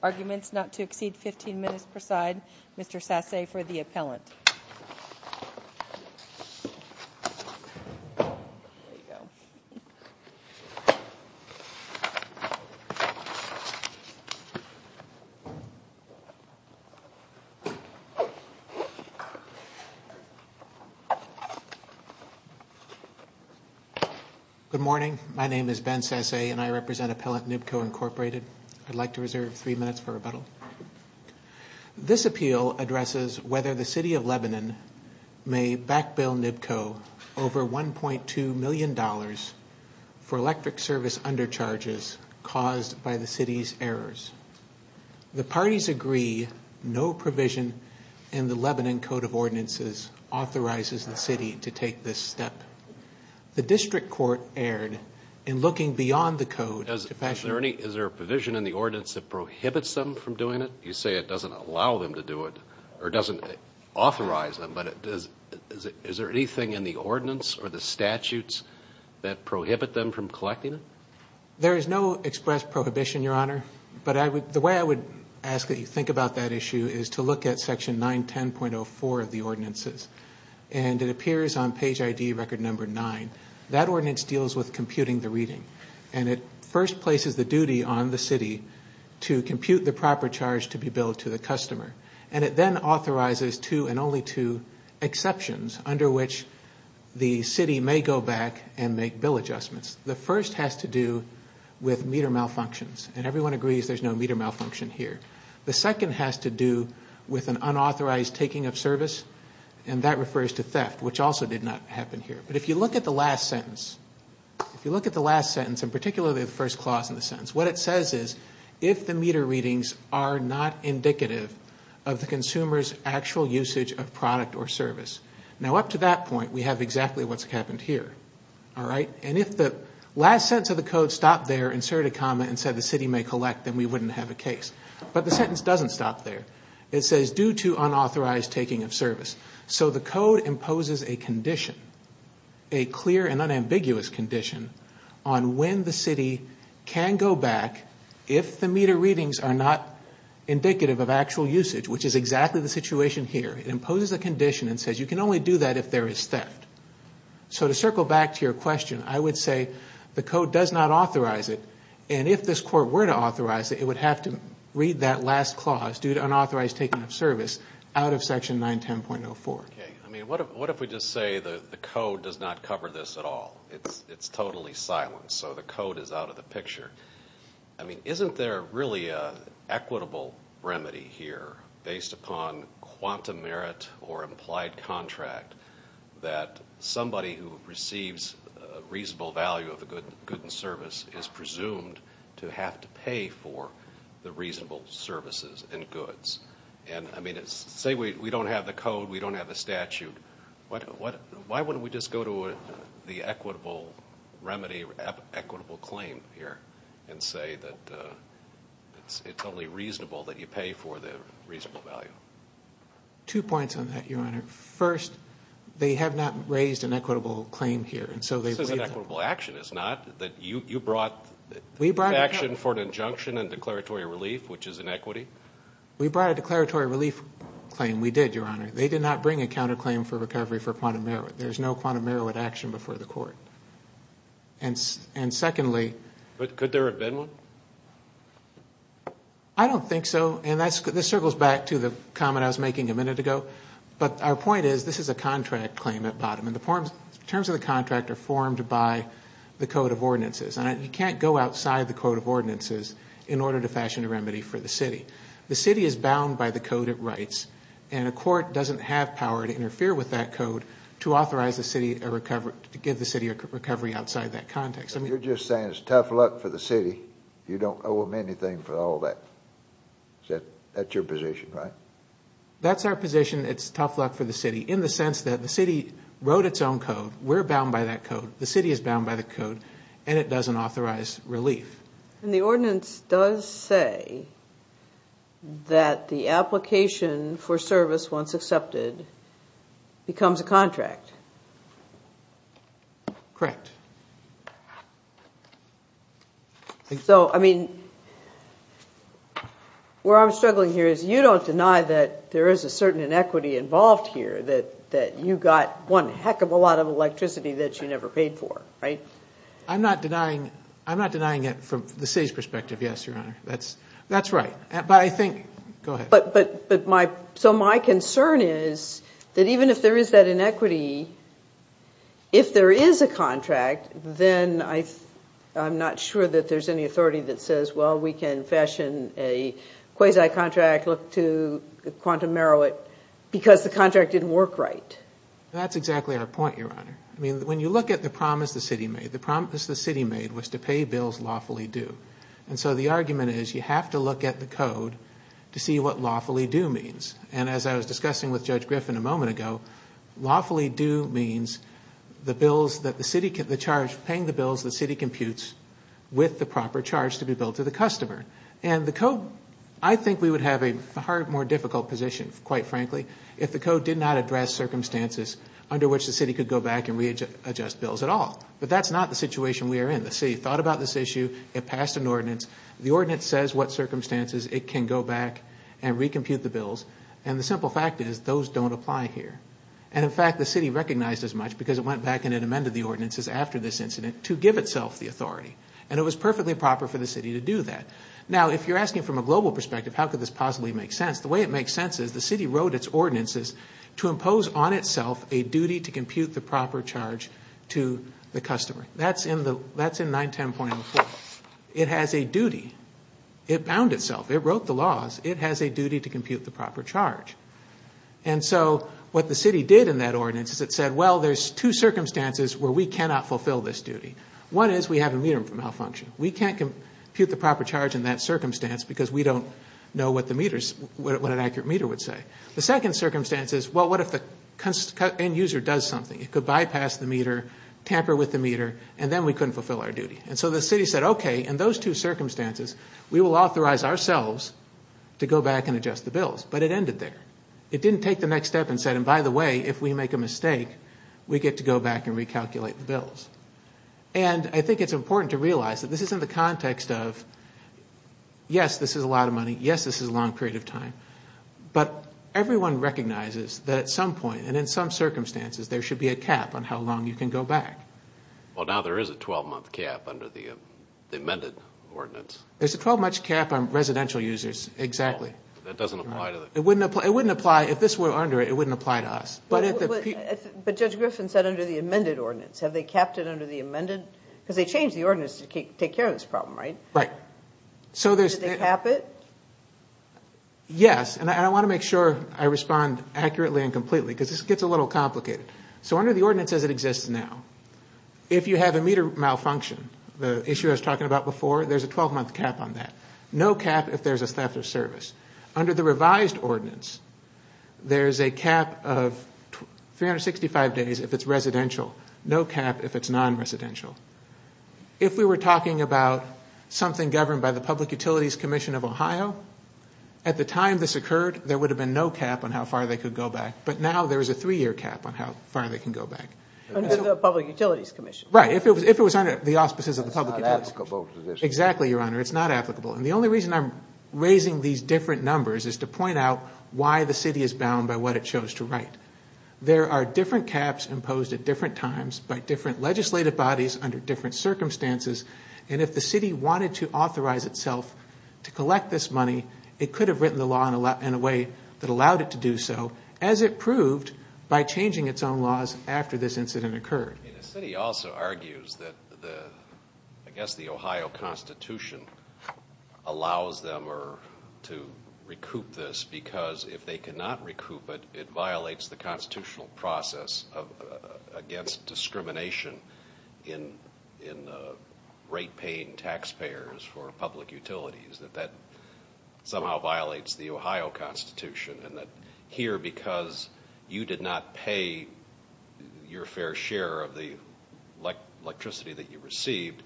Arguments not to exceed 15 minutes per side Mr. Sasse for the appellant. Good morning. My name is Ben Sasse and I represent Appellant NBCO Inc. I'd like to reserve three minutes for rebuttal. This appeal addresses whether the City of Lebanon may back-bill NBCO over $1.2 million for electric service undercharges caused by the City's errors. The parties agree no provision in the Lebanon Code of Ordinances authorizes the City to take this step. The District Court erred in looking beyond the Code to fashion... Is there a provision in the Ordinance that prohibits them from doing it? You say it doesn't allow them to do it or doesn't authorize them, but is there anything in the Ordinance or the statutes that prohibit them from collecting it? There is no express prohibition, Your Honor, but the way I would ask that you think about that issue is to look at Section 910.04 of the Ordinances. And it appears on page ID record number 9. That Ordinance deals with computing the reading. And it first places the duty on the City to compute the proper charge to be billed to the customer. And it then authorizes two and only two exceptions under which the City may go back and make bill adjustments. The first has to do with meter malfunctions, and everyone agrees there's no meter malfunction here. The second has to do with an unauthorized taking of service, and that refers to theft, which also did not happen here. But if you look at the last sentence, and particularly the first clause in the sentence, what it says is if the meter readings are not indicative of the consumer's actual usage of product or service. Now up to that point, we have exactly what's happened here. And if the last sentence of the code stopped there, inserted a comma, and said the City may collect, then we wouldn't have a case. But the sentence doesn't stop there. It says due to unauthorized taking of service. So the code imposes a condition, a clear and unambiguous condition, on when the City can go back if the meter readings are not indicative of actual usage, which is exactly the situation here. It imposes a condition and says you can only do that if there is theft. So to circle back to your question, I would say the code does not authorize it. And if this court were to authorize it, it would have to read that last clause, due to unauthorized taking of service, out of section 910.04. Okay. I mean, what if we just say the code does not cover this at all? It's totally silenced, so the code is out of the picture. I mean, isn't there really an equitable remedy here, based upon quantum merit or implied contract, that somebody who receives a reasonable value of a good and service is presumed to have to pay for the reasonable services and goods? And I mean, say we don't have the code, we don't have the statute. Why wouldn't we just go to the equitable remedy, equitable claim here, and say that it's only reasonable that you pay for the reasonable value? Two points on that, Your Honor. First, they have not raised an equitable claim here. This isn't equitable action. It's not. You brought action for an injunction and declaratory relief, which is inequity. We brought a declaratory relief claim. We did, Your Honor. They did not bring a counterclaim for recovery for quantum merit. There's no quantum merit action before the court. And secondly... But could there have been one? I don't think so, and this circles back to the comment I was making a minute ago. But our point is, this is a contract claim at bottom, and the terms of the contract are formed by the code of ordinances. And you can't go outside the code of ordinances in order to fashion a remedy for the city. The city is bound by the code it writes, and a court doesn't have power to interfere with that code to authorize the city, to give the city a recovery outside that context. You're just saying it's tough luck for the city. You don't owe them anything for all that. That's your position, right? That's our position. It's tough luck for the city in the sense that the city wrote its own code. We're bound by that code. The city is bound by the code, and it doesn't authorize relief. And the ordinance does say that the application for service once accepted becomes a contract. Correct. So, I mean, where I'm struggling here is you don't deny that there is a certain inequity involved here, that you got one heck of a lot of electricity that you never paid for, right? I'm not denying it from the city's perspective, yes, Your Honor. That's right. But I think—go ahead. So my concern is that even if there is that inequity, if there is a contract, then I'm not sure that there's any authority that says, well, we can fashion a quasi-contract, look to quantum narrow it, because the contract didn't work right. That's exactly our point, Your Honor. I mean, when you look at the promise the city made, the promise the city made was to pay bills lawfully due. And so the argument is you have to look at the code to see what lawfully due means. And as I was discussing with Judge Griffin a moment ago, lawfully due means the bills that the city— the charge for paying the bills the city computes with the proper charge to be billed to the customer. And the code—I think we would have a far more difficult position, quite frankly, if the code did not address circumstances under which the city could go back and readjust bills at all. But that's not the situation we are in. The city thought about this issue. It passed an ordinance. The ordinance says what circumstances it can go back and recompute the bills. And the simple fact is those don't apply here. And, in fact, the city recognized as much because it went back and it amended the ordinances after this incident to give itself the authority. And it was perfectly proper for the city to do that. Now, if you're asking from a global perspective how could this possibly make sense, the way it makes sense is the city wrote its ordinances to impose on itself a duty to compute the proper charge to the customer. That's in 910.04. It has a duty. It bound itself. It wrote the laws. It has a duty to compute the proper charge. And so what the city did in that ordinance is it said, well, there's two circumstances where we cannot fulfill this duty. One is we have a meter malfunction. We can't compute the proper charge in that circumstance because we don't know what an accurate meter would say. The second circumstance is, well, what if the end user does something? It could bypass the meter, tamper with the meter, and then we couldn't fulfill our duty. And so the city said, okay, in those two circumstances, we will authorize ourselves to go back and adjust the bills. But it ended there. It didn't take the next step and said, and by the way, if we make a mistake, we get to go back and recalculate the bills. And I think it's important to realize that this is in the context of, yes, this is a lot of money. Yes, this is a long period of time. But everyone recognizes that at some point and in some circumstances, there should be a cap on how long you can go back. Well, now there is a 12-month cap under the amended ordinance. There's a 12-month cap on residential users, exactly. It wouldn't apply if this were under it. It wouldn't apply to us. But Judge Griffin said under the amended ordinance. Have they capped it under the amended? Because they changed the ordinance to take care of this problem, right? Right. Did they cap it? Yes, and I want to make sure I respond accurately and completely because this gets a little complicated. So under the ordinance as it exists now, if you have a meter malfunction, the issue I was talking about before, there's a 12-month cap on that. No cap if there's a theft of service. Under the revised ordinance, there's a cap of 365 days if it's residential. No cap if it's non-residential. If we were talking about something governed by the Public Utilities Commission of Ohio, at the time this occurred, there would have been no cap on how far they could go back. But now there is a three-year cap on how far they can go back. Under the Public Utilities Commission. Right. If it was under the auspices of the Public Utilities Commission. It's not applicable to this. Exactly, Your Honor. It's not applicable. And the only reason I'm raising these different numbers is to point out why the city is bound by what it chose to write. There are different caps imposed at different times by different legislative bodies under different circumstances. And if the city wanted to authorize itself to collect this money, it could have written the law in a way that allowed it to do so, as it proved by changing its own laws after this incident occurred. The city also argues that, I guess, the Ohio Constitution allows them to recoup this because if they cannot recoup it, it violates the constitutional process against discrimination in rate-paying taxpayers for public utilities. That that somehow violates the Ohio Constitution. And that here, because you did not pay your fair share of the electricity that you received,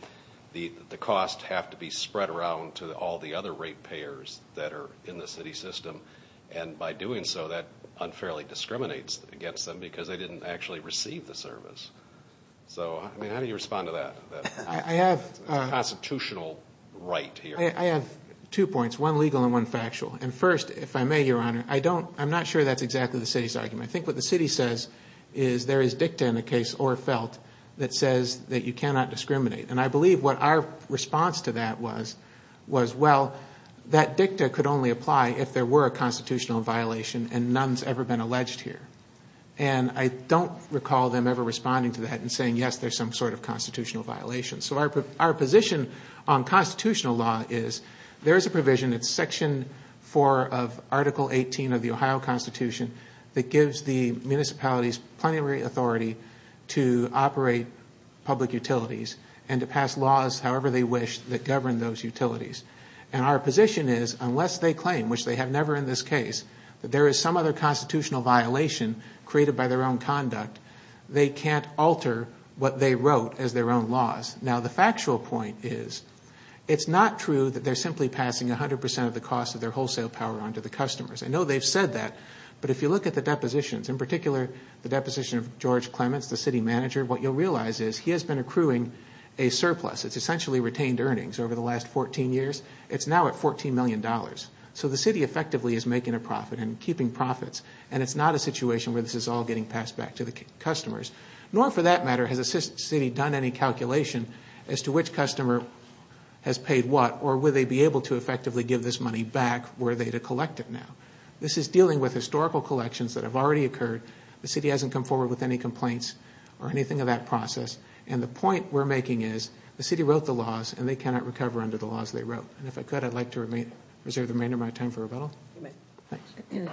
the costs have to be spread around to all the other rate-payers that are in the city system. And by doing so, that unfairly discriminates against them because they didn't actually receive the service. So, I mean, how do you respond to that? It's a constitutional right here. I have two points, one legal and one factual. And first, if I may, Your Honor, I'm not sure that's exactly the city's argument. I think what the city says is there is dicta in a case or felt that says that you cannot discriminate. And I believe what our response to that was, well, that dicta could only apply if there were a constitutional violation and none has ever been alleged here. And I don't recall them ever responding to that and saying, yes, there's some sort of constitutional violation. So our position on constitutional law is there is a provision, it's Section 4 of Article 18 of the Ohio Constitution, that gives the municipalities plenary authority to operate public utilities and to pass laws however they wish that govern those utilities. And our position is unless they claim, which they have never in this case, that there is some other constitutional violation created by their own conduct, they can't alter what they wrote as their own laws. Now, the factual point is it's not true that they're simply passing 100 percent of the cost of their wholesale power onto the customers. I know they've said that, but if you look at the depositions, in particular the deposition of George Clements, the city manager, what you'll realize is he has been accruing a surplus. It's essentially retained earnings over the last 14 years. It's now at $14 million. So the city effectively is making a profit and keeping profits. And it's not a situation where this is all getting passed back to the customers. Nor for that matter has the city done any calculation as to which customer has paid what or will they be able to effectively give this money back were they to collect it now. This is dealing with historical collections that have already occurred. The city hasn't come forward with any complaints or anything of that process. And the point we're making is the city wrote the laws and they cannot recover under the laws they wrote. And if I could, I'd like to reserve the remainder of my time for rebuttal. Thanks.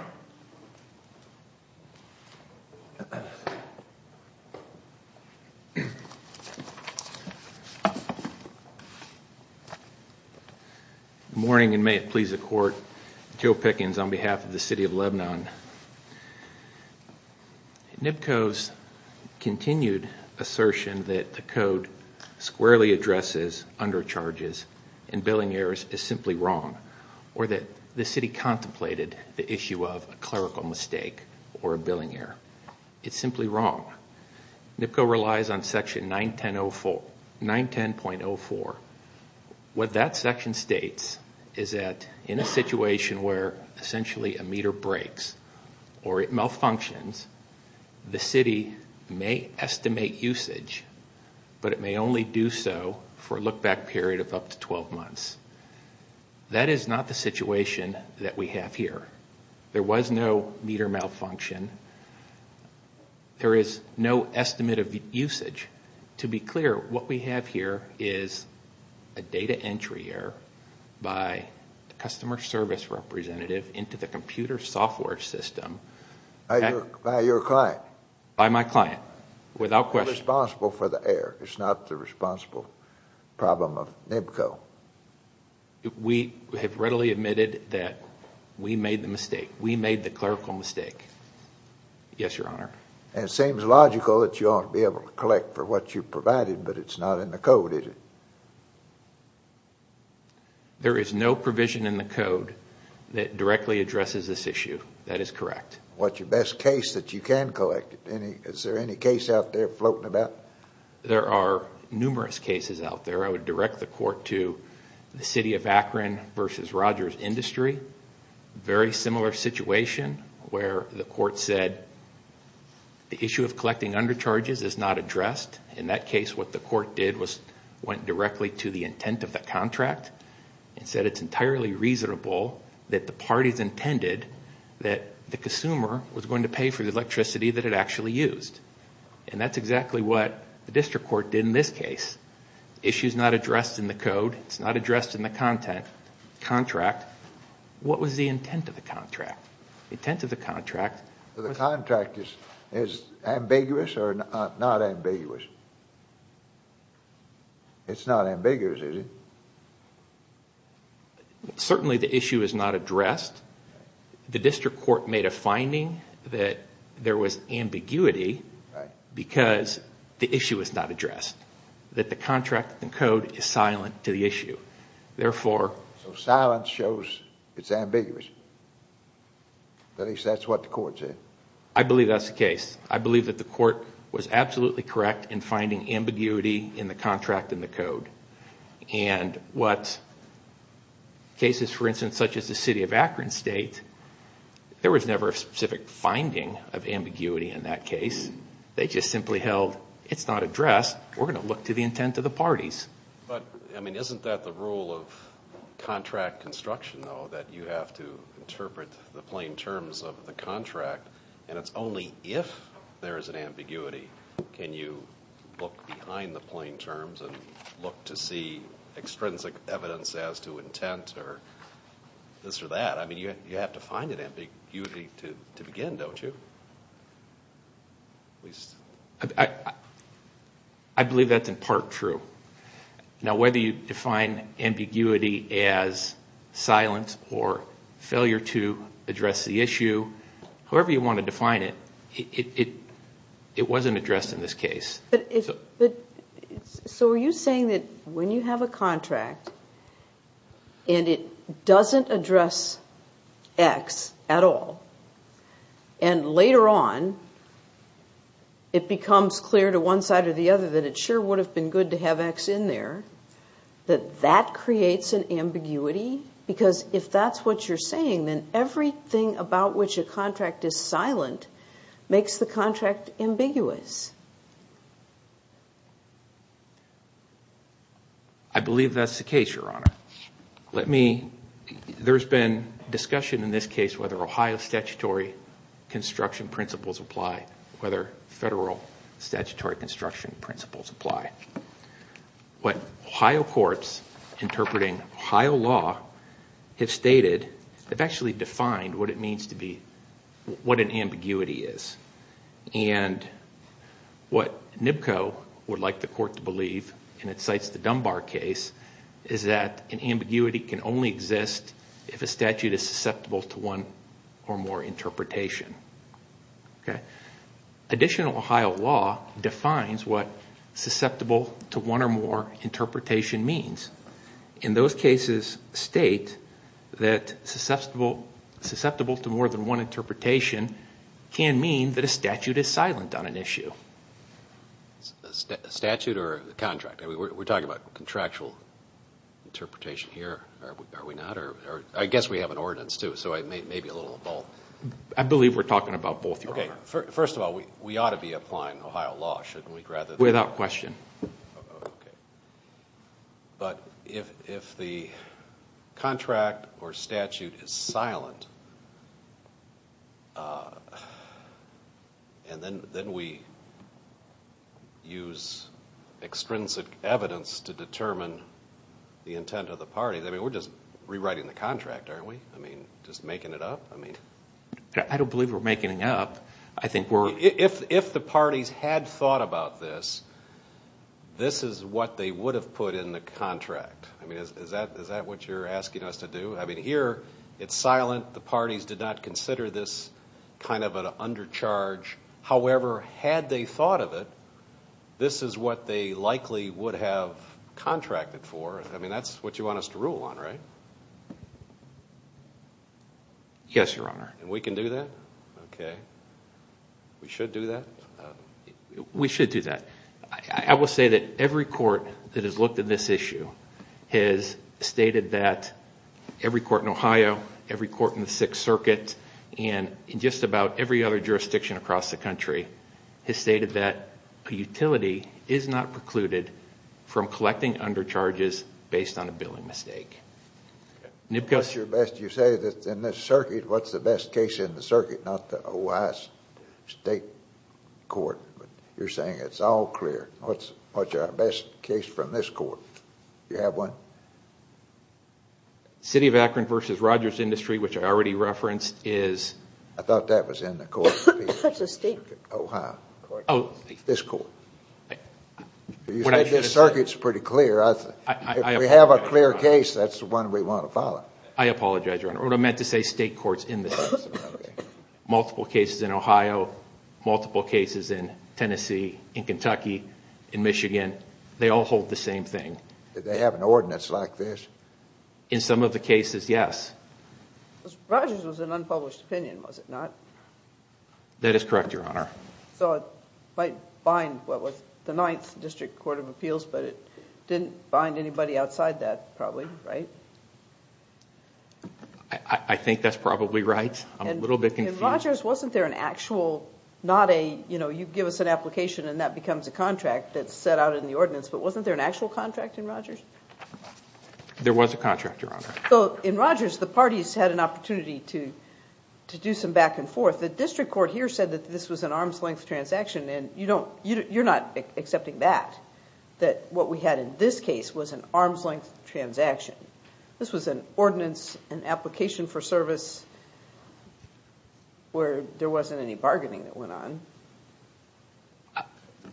Good morning, and may it please the court. Joe Pickens on behalf of the city of Lebanon. NBCO's continued assertion that the code squarely addresses undercharges and billing errors is simply wrong or that the city contemplated the issue of a clerical mistake or a billing error. It's simply wrong. NBCO relies on section 910.04. What that section states is that in a situation where essentially a meter breaks or it malfunctions, the city may estimate usage, but it may only do so for a look-back period of up to 12 months. That is not the situation that we have here. There was no meter malfunction. There is no estimate of usage. To be clear, what we have here is a data entry error by the customer service representative into the computer software system. By your client. By my client, without question. It's not the responsible problem of NBCO. We have readily admitted that we made the mistake. We made the clerical mistake. Yes, Your Honor. It seems logical that you ought to be able to collect for what you provided, but it's not in the code, is it? There is no provision in the code that directly addresses this issue. That is correct. What's your best case that you can collect? Is there any case out there floating about? There are numerous cases out there. I would direct the court to the city of Akron v. Rogers Industry. Very similar situation where the court said the issue of collecting undercharges is not addressed. In that case, what the court did was went directly to the intent of the contract and said it's entirely reasonable that the parties intended that the consumer was going to pay for the electricity that it actually used. And that's exactly what the district court did in this case. The issue is not addressed in the code. It's not addressed in the content, contract. What was the intent of the contract? The intent of the contract was... The contract is ambiguous or not ambiguous? It's not ambiguous, is it? Certainly the issue is not addressed. The district court made a finding that there was ambiguity because the issue is not addressed. That the contract in the code is silent to the issue. Therefore... So silence shows it's ambiguous. At least that's what the court said. I believe that's the case. I believe that the court was absolutely correct in finding ambiguity in the contract and the code. And what cases, for instance, such as the city of Akron State, there was never a specific finding of ambiguity in that case. They just simply held it's not addressed. We're going to look to the intent of the parties. Isn't that the rule of contract construction, though, that you have to interpret the plain terms of the contract and it's only if there is an ambiguity can you look behind the plain terms and look to see extrinsic evidence as to intent or this or that? You have to find an ambiguity to begin, don't you? I believe that's in part true. Whether you define ambiguity as silence or failure to address the issue, whoever you want to define it, it wasn't addressed in this case. So are you saying that when you have a contract and it doesn't address X at all and later on it becomes clear to one side or the other that it sure would have been good to have X in there, that that creates an ambiguity? Because if that's what you're saying, then everything about which a contract is silent makes the contract ambiguous. I believe that's the case, Your Honor. There's been discussion in this case whether Ohio statutory construction principles apply, whether federal statutory construction principles apply. What Ohio courts interpreting Ohio law have stated, they've actually defined what it means to be, what an ambiguity is. And what NBCO would like the court to believe, and it cites the Dunbar case, is that an ambiguity can only exist if a statute is susceptible to one or more interpretation. Additional Ohio law defines what susceptible to one or more interpretation means. And those cases state that susceptible to more than one interpretation can mean that a statute is silent on an issue. A statute or a contract? We're talking about contractual interpretation here, are we not? I guess we have an ordinance, too, so I may be a little involved. I believe we're talking about both, Your Honor. First of all, we ought to be applying Ohio law, shouldn't we? Without question. Okay. But if the contract or statute is silent, and then we use extrinsic evidence to determine the intent of the party, then we're just rewriting the contract, aren't we? I mean, just making it up? I don't believe we're making it up. If the parties had thought about this, this is what they would have put in the contract. I mean, is that what you're asking us to do? I mean, here it's silent. The parties did not consider this kind of an undercharge. However, had they thought of it, this is what they likely would have contracted for. I mean, that's what you want us to rule on, right? Yes, Your Honor. And we can do that? Okay. We should do that? We should do that. I will say that every court that has looked at this issue has stated that every court in Ohio, every court in the Sixth Circuit, and in just about every other jurisdiction across the country has stated that a utility is not precluded from collecting undercharges based on a billing mistake. What's your best... You say that in this circuit, what's the best case in the circuit, not the Ohio State Court? You're saying it's all clear. What's our best case from this court? Do you have one? City of Akron v. Rogers Industry, which I already referenced, is... I thought that was in the Court of Appeals. That's a state... Ohio. Oh. This court. You said this circuit's pretty clear. If we have a clear case, that's the one we want to follow. I apologize, Your Honor. What I meant to say, state courts in the Sixth Circuit, multiple cases in Ohio, multiple cases in Tennessee, in Kentucky, in Michigan, they all hold the same thing. Do they have an ordinance like this? In some of the cases, yes. Rogers was an unpublished opinion, was it not? That is correct, Your Honor. So it might bind what was the Ninth District Court of Appeals, but it didn't bind anybody outside that, probably, right? I think that's probably right. I'm a little bit confused. In Rogers, wasn't there an actual... not a, you know, you give us an application and that becomes a contract that's set out in the ordinance, but wasn't there an actual contract in Rogers? There was a contract, Your Honor. In Rogers, the parties had an opportunity to do some back and forth. The district court here said that this was an arm's length transaction, and you're not accepting that. That what we had in this case was an arm's length transaction. This was an ordinance, an application for service, where there wasn't any bargaining that went on.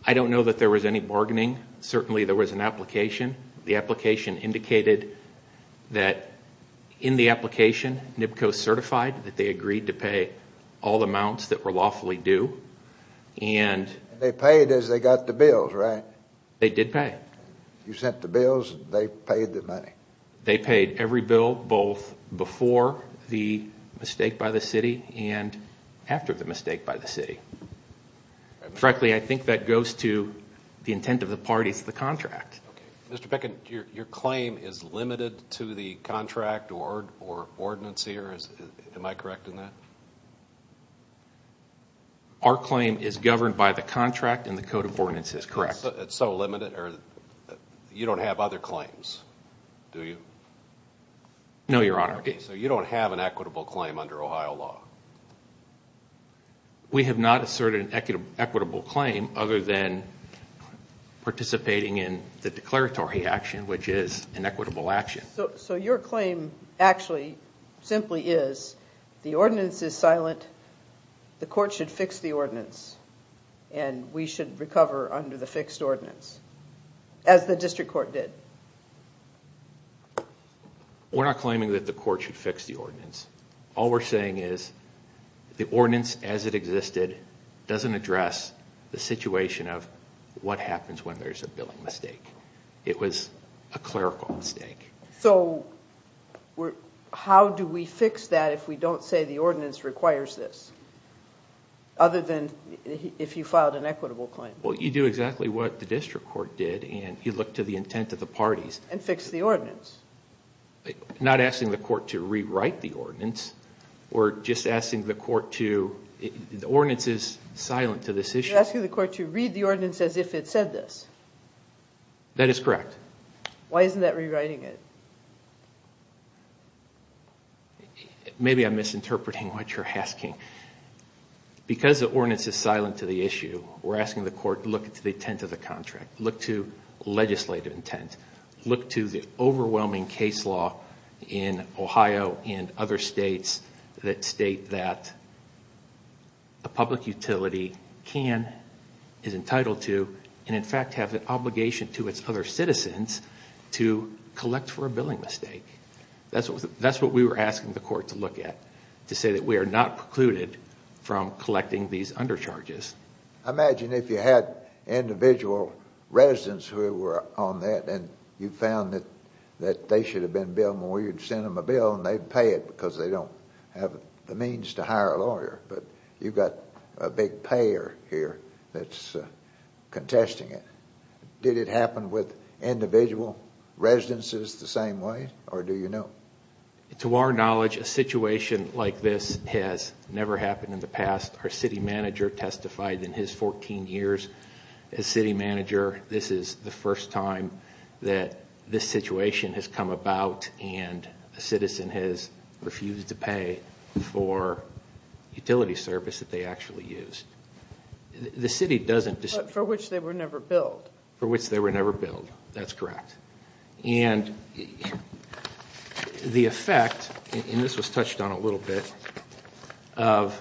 I don't know that there was any bargaining. Certainly, there was an application. The application indicated that in the application, NIPCO certified that they agreed to pay all the amounts that were lawfully due. They paid as they got the bills, right? They did pay. You sent the bills. They paid the money. They paid every bill, both before the mistake by the city and after the mistake by the city. Frankly, I think that goes to the intent of the parties, the contract. Okay. Mr. Peckin, your claim is limited to the contract or ordinance here. Am I correct in that? Our claim is governed by the contract and the code of ordinances, correct. It's so limited. You don't have other claims, do you? No, Your Honor. Okay. You don't have an equitable claim under Ohio law. We have not asserted an equitable claim other than participating in the declaratory action, which is an equitable action. Your claim actually simply is the ordinance is silent, the court should fix the ordinance, and we should recover under the fixed ordinance, as the district court did. We're not claiming that the court should fix the ordinance. All we're saying is the ordinance as it existed doesn't address the situation of what happens when there's a billing mistake. It was a clerical mistake. So how do we fix that if we don't say the ordinance requires this? Other than if you filed an equitable claim. Well, you do exactly what the district court did and you look to the intent of the parties. And fix the ordinance. Not asking the court to rewrite the ordinance or just asking the court to... The ordinance is silent to this issue. You're asking the court to read the ordinance as if it said this. That is correct. Why isn't that rewriting it? Maybe I'm misinterpreting what you're asking. Because the ordinance is silent to the issue, we're asking the court to look to the intent of the contract. Look to legislative intent. Look to the overwhelming case law in Ohio and other states that state that a public utility can, is entitled to, and in fact has an obligation to its other citizens to collect for a billing mistake. That's what we were asking the court to look at, to say that we are not precluded from collecting these undercharges. I imagine if you had individual residents who were on that and you found that they should have been billed more, you'd send them a bill and they'd pay it because they don't have the means to hire a lawyer. But you've got a big payer here that's contesting it. Did it happen with individual residences the same way, or do you know? To our knowledge, a situation like this has never happened in the past. Our city manager testified in his 14 years as city manager. This is the first time that this situation has come about and a citizen has refused to pay for utility service that they actually used. The city doesn't dispute. But for which they were never billed. For which they were never billed, that's correct. And the effect, and this was touched on a little bit, of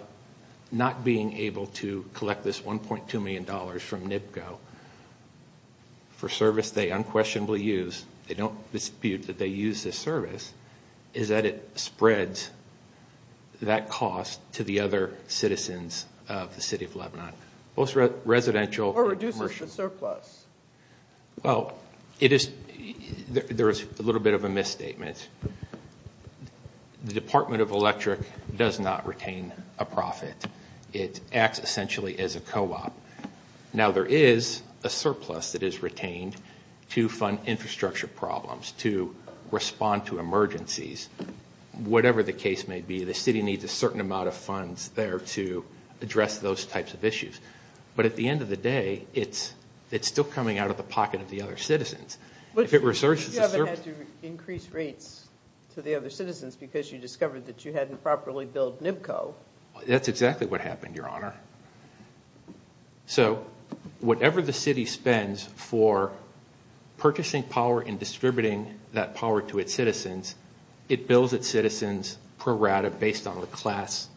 not being able to collect this $1.2 million from NIPCO for service they unquestionably use, they don't dispute that they use this service, is that it spreads that cost to the other citizens of the city of Lebanon. Or reduces the surplus. Well, there is a little bit of a misstatement. The Department of Electric does not retain a profit. It acts essentially as a co-op. Now there is a surplus that is retained to fund infrastructure problems, to respond to emergencies, whatever the case may be. The city needs a certain amount of funds there to address those types of issues. But at the end of the day, it's still coming out of the pocket of the other citizens. But you haven't had to increase rates to the other citizens because you discovered that you hadn't properly billed NIPCO. That's exactly what happened, Your Honor. So whatever the city spends for purchasing power and distributing that power to its citizens, it bills its citizens pro rata based on the class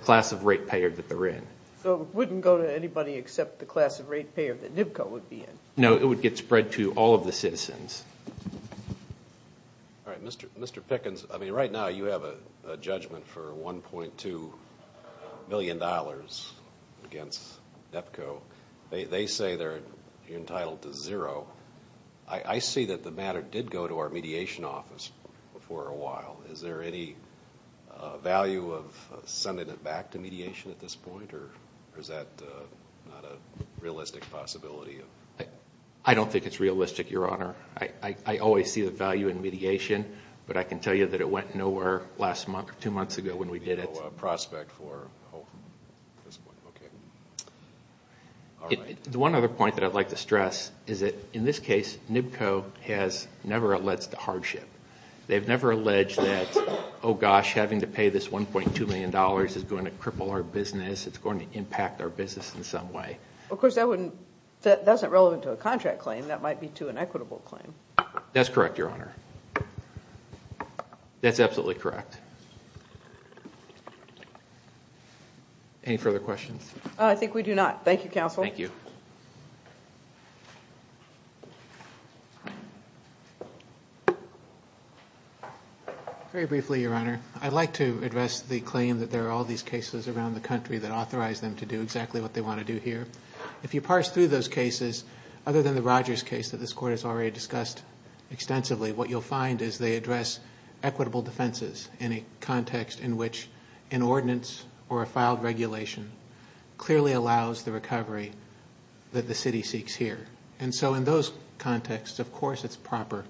of rate payer that they're in. So it wouldn't go to anybody except the class of rate payer that NIPCO would be in? No, it would get spread to all of the citizens. Mr. Pickens, right now you have a judgment for $1.2 million against NIPCO. They say you're entitled to zero. I see that the matter did go to our mediation office for a while. Is there any value of sending it back to mediation at this point? Or is that not a realistic possibility? I don't think it's realistic, Your Honor. I always see the value in mediation, but I can tell you that it went nowhere two months ago when we did it. No prospect for a hold at this point. The one other point that I'd like to stress is that in this case, NIPCO has never alleged to hardship. They've never alleged that, oh gosh, having to pay this $1.2 million is going to cripple our business, it's going to impact our business in some way. Of course, that's not relevant to a contract claim. That might be to an equitable claim. That's correct, Your Honor. That's absolutely correct. Any further questions? I think we do not. Thank you, counsel. Thank you. Very briefly, Your Honor, I'd like to address the claim that there are all these cases around the country that authorize them to do exactly what they want to do here. If you parse through those cases, other than the Rogers case that this Court has already discussed extensively, what you'll find is they address equitable defenses in a context in which an ordinance or a filed regulation clearly allows the recovery that the city seeks here. In those contexts, of course, it's proper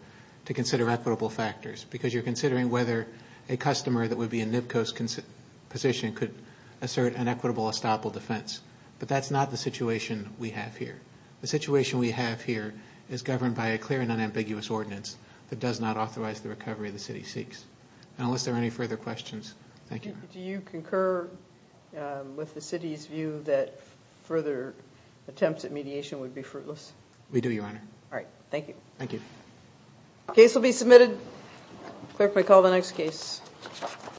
to consider equitable factors because you're considering whether a customer that would be in NIPCO's position could assert an equitable estoppel defense. But that's not the situation we have here. The situation we have here is governed by a clear and unambiguous ordinance that does not authorize the recovery the city seeks. Unless there are any further questions, thank you, Your Honor. Do you concur with the city's view that further attempts at mediation would be fruitless? We do, Your Honor. All right. Thank you. Thank you. The case will be submitted. Clerk, may I call the next case?